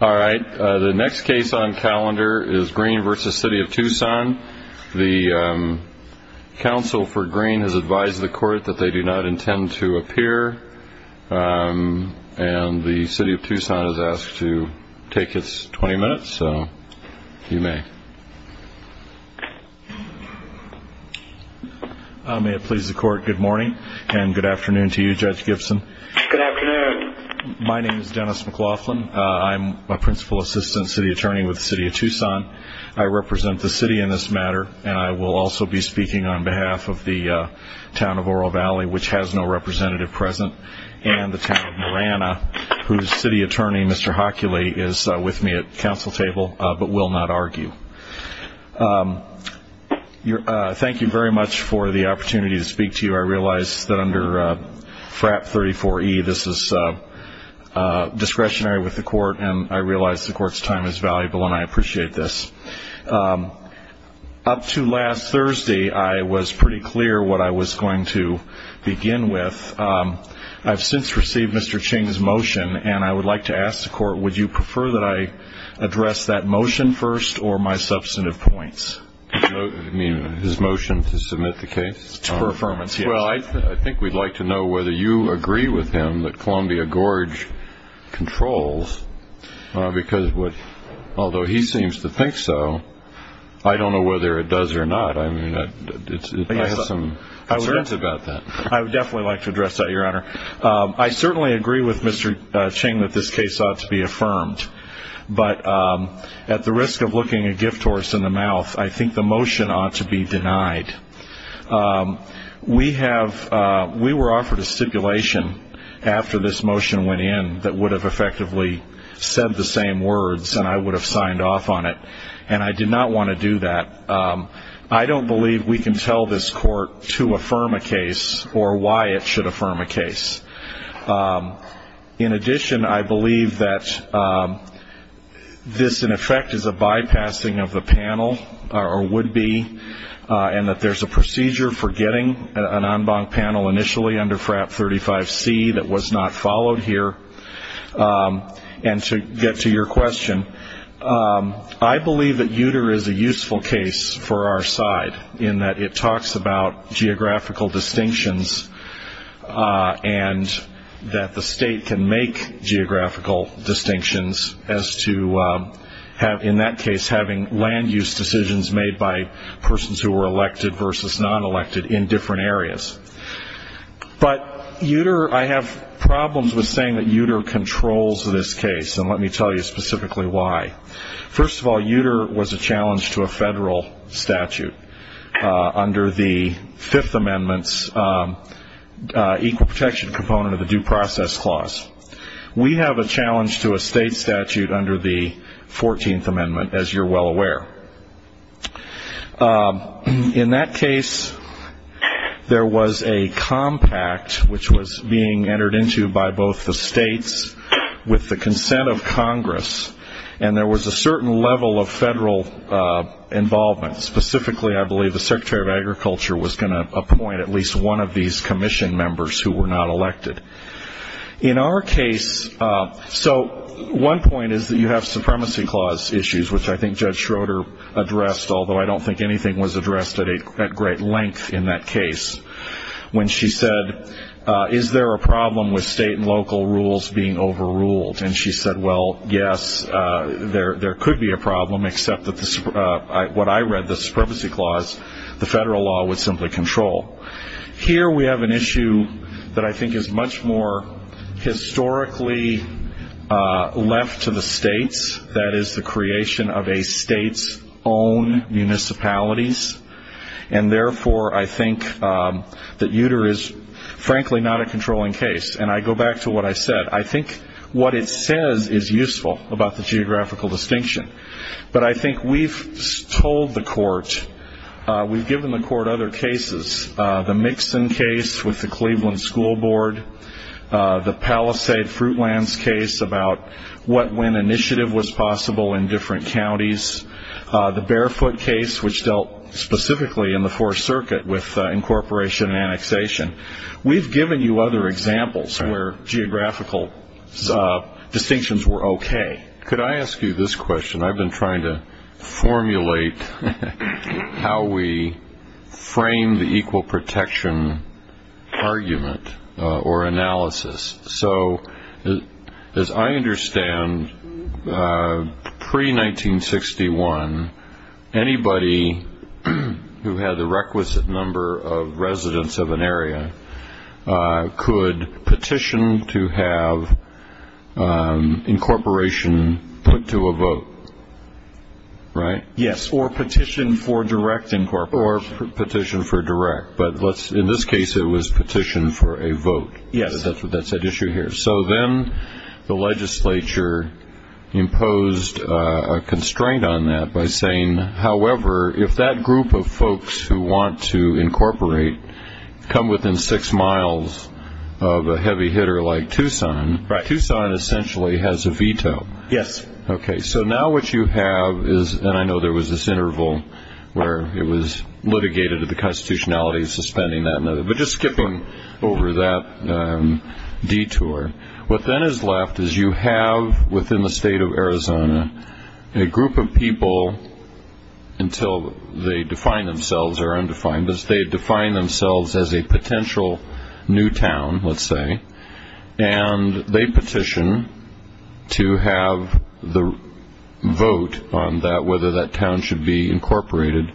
Alright, the next case on calendar is Green v. City of Tucson. The counsel for Green has advised the court that they do not intend to appear. And the City of Tucson has asked to take its 20 minutes, so you may. May it please the court, good morning and good afternoon to you, Judge Gibson. Good afternoon. My name is Dennis McLaughlin. I'm a Principal Assistant City Attorney with the City of Tucson. I represent the city in this matter, and I will also be speaking on behalf of the town of Oro Valley, which has no representative present, and the town of Marana, whose City Attorney, Mr. Hockula, is with me at the council table but will not argue. Thank you very much for the opportunity to speak to you. I realize that under FRAP 34E, this is discretionary with the court, and I realize the court's time is valuable, and I appreciate this. Up to last Thursday, I was pretty clear what I was going to begin with. I've since received Mr. Ching's motion, and I would like to ask the court, would you prefer that I address that motion first or my substantive points? You mean his motion to submit the case? Well, I think we'd like to know whether you agree with him that Columbia Gorge controls, because although he seems to think so, I don't know whether it does or not. I mean, I have some concerns about that. I would definitely like to address that, Your Honor. I certainly agree with Mr. Ching that this case ought to be affirmed, but at the risk of looking a gift horse in the mouth, I think the motion ought to be denied. We were offered a stipulation after this motion went in that would have effectively said the same words, and I would have signed off on it, and I did not want to do that. I don't believe we can tell this court to affirm a case or why it should affirm a case. In addition, I believe that this, in effect, is a bypassing of the panel, or would be, and that there's a procedure for getting an en banc panel initially under FRAP 35C that was not followed here. And to get to your question, I believe that Uter is a useful case for our side, in that it talks about geographical distinctions, and that the state can make geographical distinctions as to, in that case, having land use decisions made by persons who were elected versus non-elected in different areas. But Uter, I have problems with saying that Uter controls this case, and let me tell you specifically why. First of all, Uter was a challenge to a federal statute under the Fifth Amendment's Equal Protection Component of the Due Process Clause. We have a challenge to a state statute under the Fourteenth Amendment, as you're well aware. In that case, there was a compact which was being entered into by both the states with the consent of Congress, and there was a certain level of federal involvement. Specifically, I believe the Secretary of Agriculture was going to appoint at least one of these commission members who were not elected. In our case, so one point is that you have Supremacy Clause issues, which I think Judge Schroeder addressed, although I don't think anything was addressed at great length in that case, when she said, is there a problem with state and local rules being overruled? And she said, well, yes, there could be a problem, except that what I read, the Supremacy Clause, the federal law would simply control. Here we have an issue that I think is much more historically left to the states. That is the creation of a state's own municipalities, and therefore I think that Uter is frankly not a controlling case. And I go back to what I said. I think what it says is useful about the geographical distinction. But I think we've told the court, we've given the court other cases, the Mixon case with the Cleveland School Board, the Palisade Fruitlands case about when initiative was possible in different counties, the Barefoot case, which dealt specifically in the Fourth Circuit with incorporation and annexation. We've given you other examples where geographical distinctions were okay. Could I ask you this question? I've been trying to formulate how we frame the equal protection argument or analysis. So as I understand, pre-1961, anybody who had the requisite number of residents of an area could petition to have incorporation put to a vote, right? Yes, or petition for direct incorporation. Or petition for direct. But in this case, it was petition for a vote. Yes, that's what that said, issue here. So then the legislature imposed a constraint on that by saying, however, if that group of folks who want to incorporate come within six miles of a heavy hitter like Tucson, Tucson essentially has a veto. Yes. Okay. So now what you have is, and I know there was this interval where it was litigated that the constitutionality is suspending that. But just skipping over that detour. What then is left is you have within the state of Arizona a group of people, until they define themselves or are undefined, but they define themselves as a potential new town, let's say, and they petition to have the vote on whether that town should be incorporated.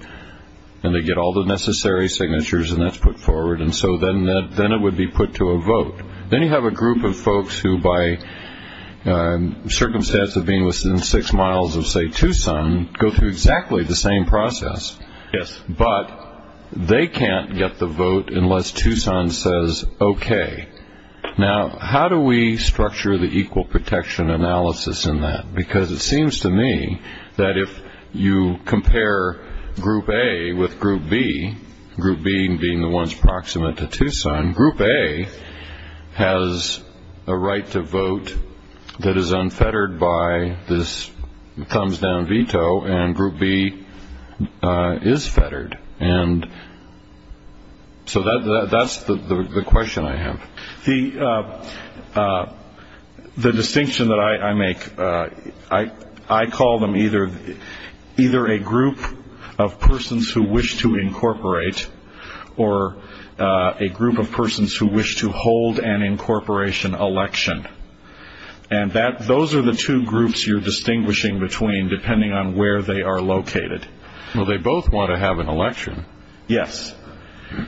And they get all the necessary signatures, and that's put forward. And so then it would be put to a vote. Then you have a group of folks who, by circumstance of being within six miles of, say, Tucson, go through exactly the same process. Yes. But they can't get the vote unless Tucson says, okay. Now, how do we structure the equal protection analysis in that? Because it seems to me that if you compare Group A with Group B, Group B being the ones proximate to Tucson, Group A has a right to vote that is unfettered by this thumbs-down veto, and Group B is fettered. And so that's the question I have. The distinction that I make, I call them either a group of persons who wish to incorporate or a group of persons who wish to hold an incorporation election. And those are the two groups you're distinguishing between depending on where they are located. Well, they both want to have an election. Yes.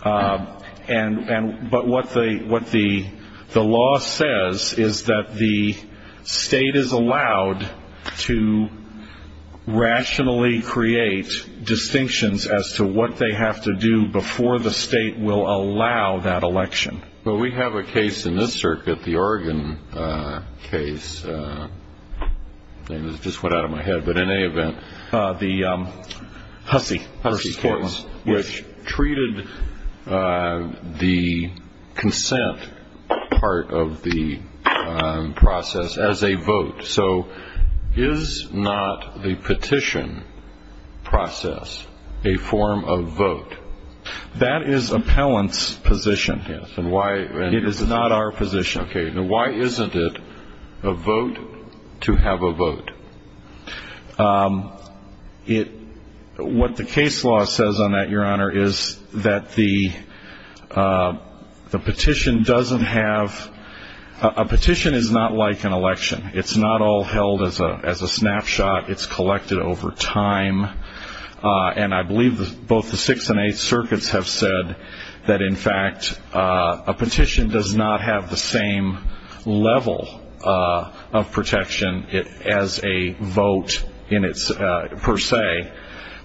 But what the law says is that the state is allowed to rationally create distinctions as to what they have to do before the state will allow that election. Well, we have a case in this circuit, the Oregon case. The Hussie case, which treated the consent part of the process as a vote. So is not the petition process a form of vote? That is appellant's position. It is not our position. Okay. Now, why isn't it a vote to have a vote? What the case law says on that, Your Honor, is that the petition doesn't have ñ a petition is not like an election. It's not all held as a snapshot. It's collected over time. And I believe both the Sixth and Eighth Circuits have said that, in fact, a petition does not have the same level of protection as a vote per se,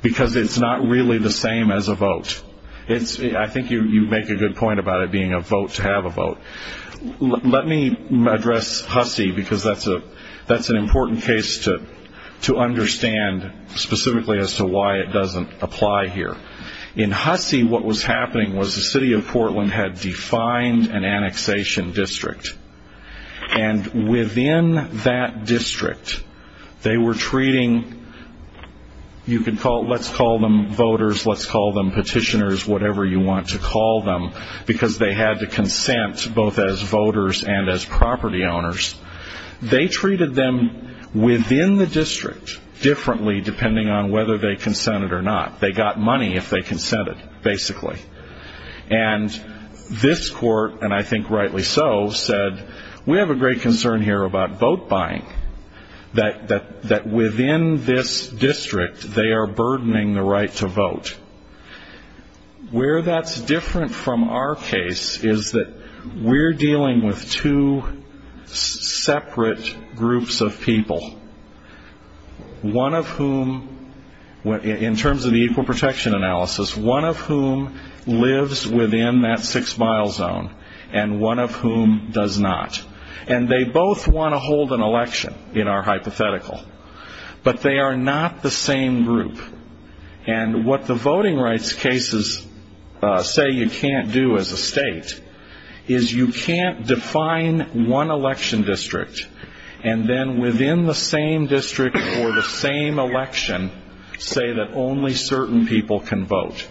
because it's not really the same as a vote. I think you make a good point about it being a vote to have a vote. Let me address Hussie, because that's an important case to understand, specifically as to why it doesn't apply here. In Hussie, what was happening was the city of Portland had defined an annexation district. And within that district, they were treating ñ let's call them voters, let's call them petitioners, whatever you want to call them, because they had to consent both as voters and as property owners. They treated them within the district differently, depending on whether they consented or not. They got money if they consented, basically. And this court, and I think rightly so, said, we have a great concern here about vote buying, that within this district, they are burdening the right to vote. Where that's different from our case is that we're dealing with two separate groups of people, one of whom, in terms of the equal protection analysis, one of whom lives within that six-mile zone, and one of whom does not. And they both want to hold an election, in our hypothetical. But they are not the same group. And what the voting rights cases say you can't do as a state is you can't define one election district and then within the same district for the same election say that only certain people can vote.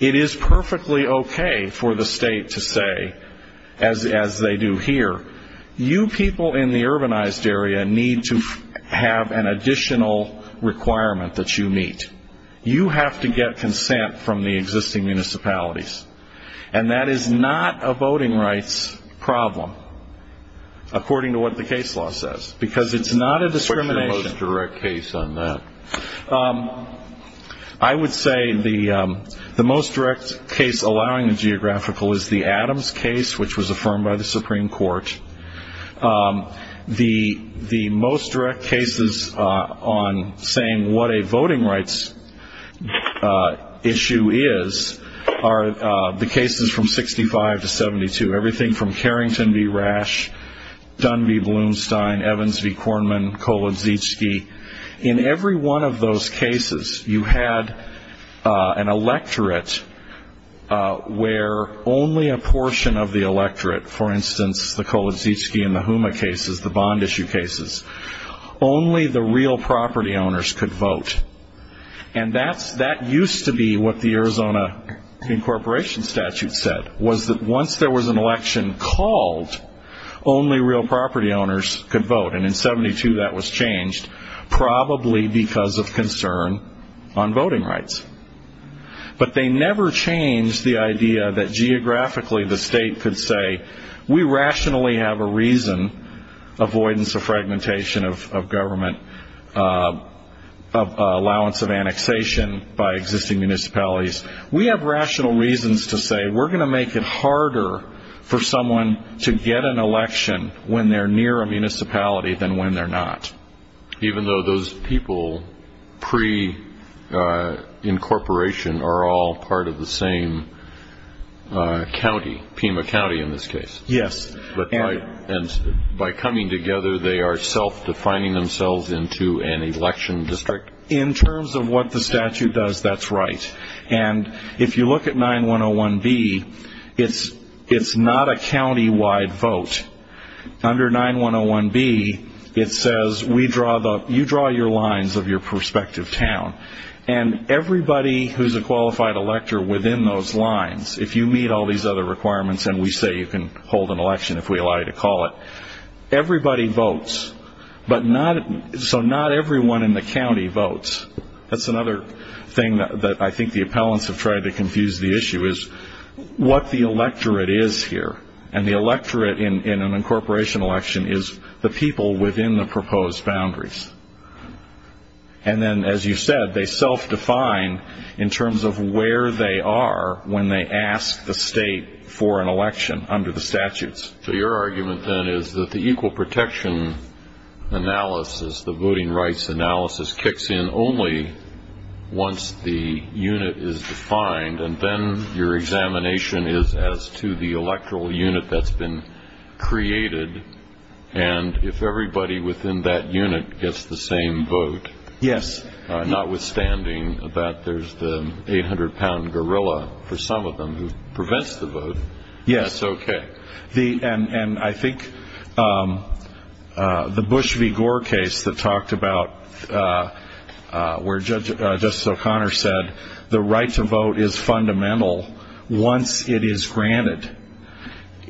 It is perfectly okay for the state to say, as they do here, you people in the urbanized area need to have an additional requirement that you meet. You have to get consent from the existing municipalities. And that is not a voting rights problem, according to what the case law says, because it's not a discrimination. What's your most direct case on that? I would say the most direct case allowing the geographical is the Adams case, which was affirmed by the Supreme Court. The most direct cases on saying what a voting rights issue is are the cases from 65 to 72, everything from Carrington v. Rash, Dunby v. Blumstein, Evans v. Kornman, Kolodziejczki. In every one of those cases, you had an electorate where only a portion of the electorate, for instance the Kolodziejczki and the Houma cases, the bond issue cases, only the real property owners could vote. And that used to be what the Arizona incorporation statute said, was that once there was an election called, only real property owners could vote. And in 72, that was changed, probably because of concern on voting rights. But they never changed the idea that geographically the state could say, we rationally have a reason, avoidance of fragmentation of government, allowance of annexation by existing municipalities. We have rational reasons to say we're going to make it harder for someone to get an election when they're near a municipality than when they're not. Even though those people pre-incorporation are all part of the same county, Pima County in this case. Yes. And by coming together, they are self-defining themselves into an election district. In terms of what the statute does, that's right. And if you look at 9101B, it's not a county-wide vote. Under 9101B, it says, you draw your lines of your prospective town. And everybody who's a qualified elector within those lines, if you meet all these other requirements and we say you can hold an election if we allow you to call it, everybody votes, so not everyone in the county votes. That's another thing that I think the appellants have tried to confuse the issue is what the electorate is here. And the electorate in an incorporation election is the people within the proposed boundaries. And then, as you said, they self-define in terms of where they are when they ask the state for an election under the statutes. So your argument, then, is that the equal protection analysis, the voting rights analysis, kicks in only once the unit is defined. And then your examination is as to the electoral unit that's been created. And if everybody within that unit gets the same vote, notwithstanding that there's the 800-pound gorilla for some of them who prevents the vote. Yes. That's okay. And I think the Bush v. Gore case that talked about where Justice O'Connor said the right to vote is fundamental once it is granted.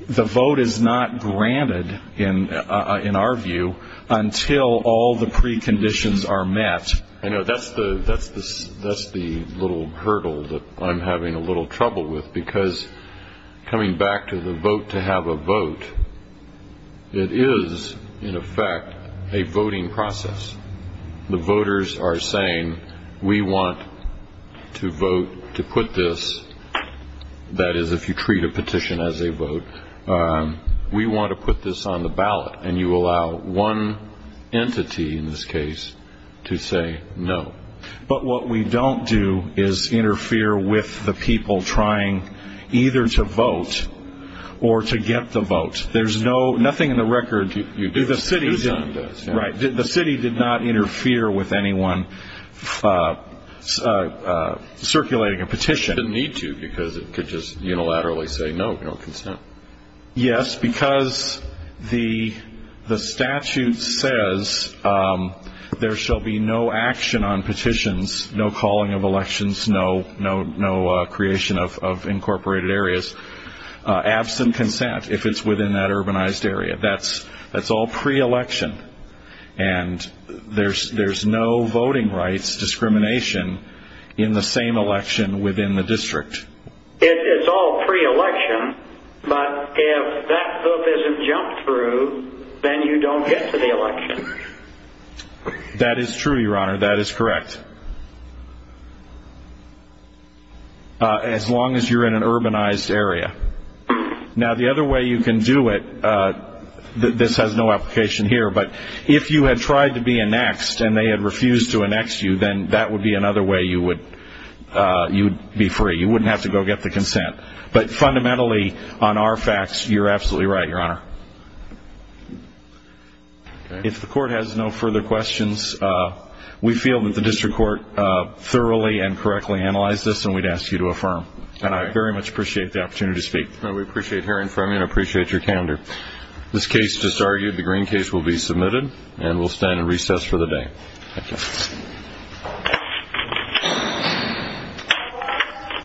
The vote is not granted, in our view, until all the preconditions are met. I know that's the little hurdle that I'm having a little trouble with, because coming back to the vote to have a vote, it is, in effect, a voting process. The voters are saying, we want to vote to put this, that is, if you treat a petition as a vote, we want to put this on the ballot. And you allow one entity, in this case, to say no. But what we don't do is interfere with the people trying either to vote or to get the vote. There's nothing in the record. You do. Right. The city did not interfere with anyone circulating a petition. It didn't need to, because it could just unilaterally say no, no consent. Yes, because the statute says there shall be no action on petitions, no calling of elections, no creation of incorporated areas, absent consent if it's within that urbanized area. That's all pre-election. And there's no voting rights discrimination in the same election within the district. It's all pre-election, but if that book isn't jumped through, then you don't get to the election. That is true, Your Honor. That is correct, as long as you're in an urbanized area. Now, the other way you can do it, this has no application here, but if you had tried to be annexed and they had refused to annex you, then that would be another way you would be free. You wouldn't have to go get the consent. But fundamentally, on our facts, you're absolutely right, Your Honor. If the court has no further questions, we feel that the district court thoroughly and correctly analyzed this, and we'd ask you to affirm. And I very much appreciate the opportunity to speak. We appreciate hearing from you and appreciate your candor. This case is disargued. The green case will be submitted, and we'll stand in recess for the day. Thank you.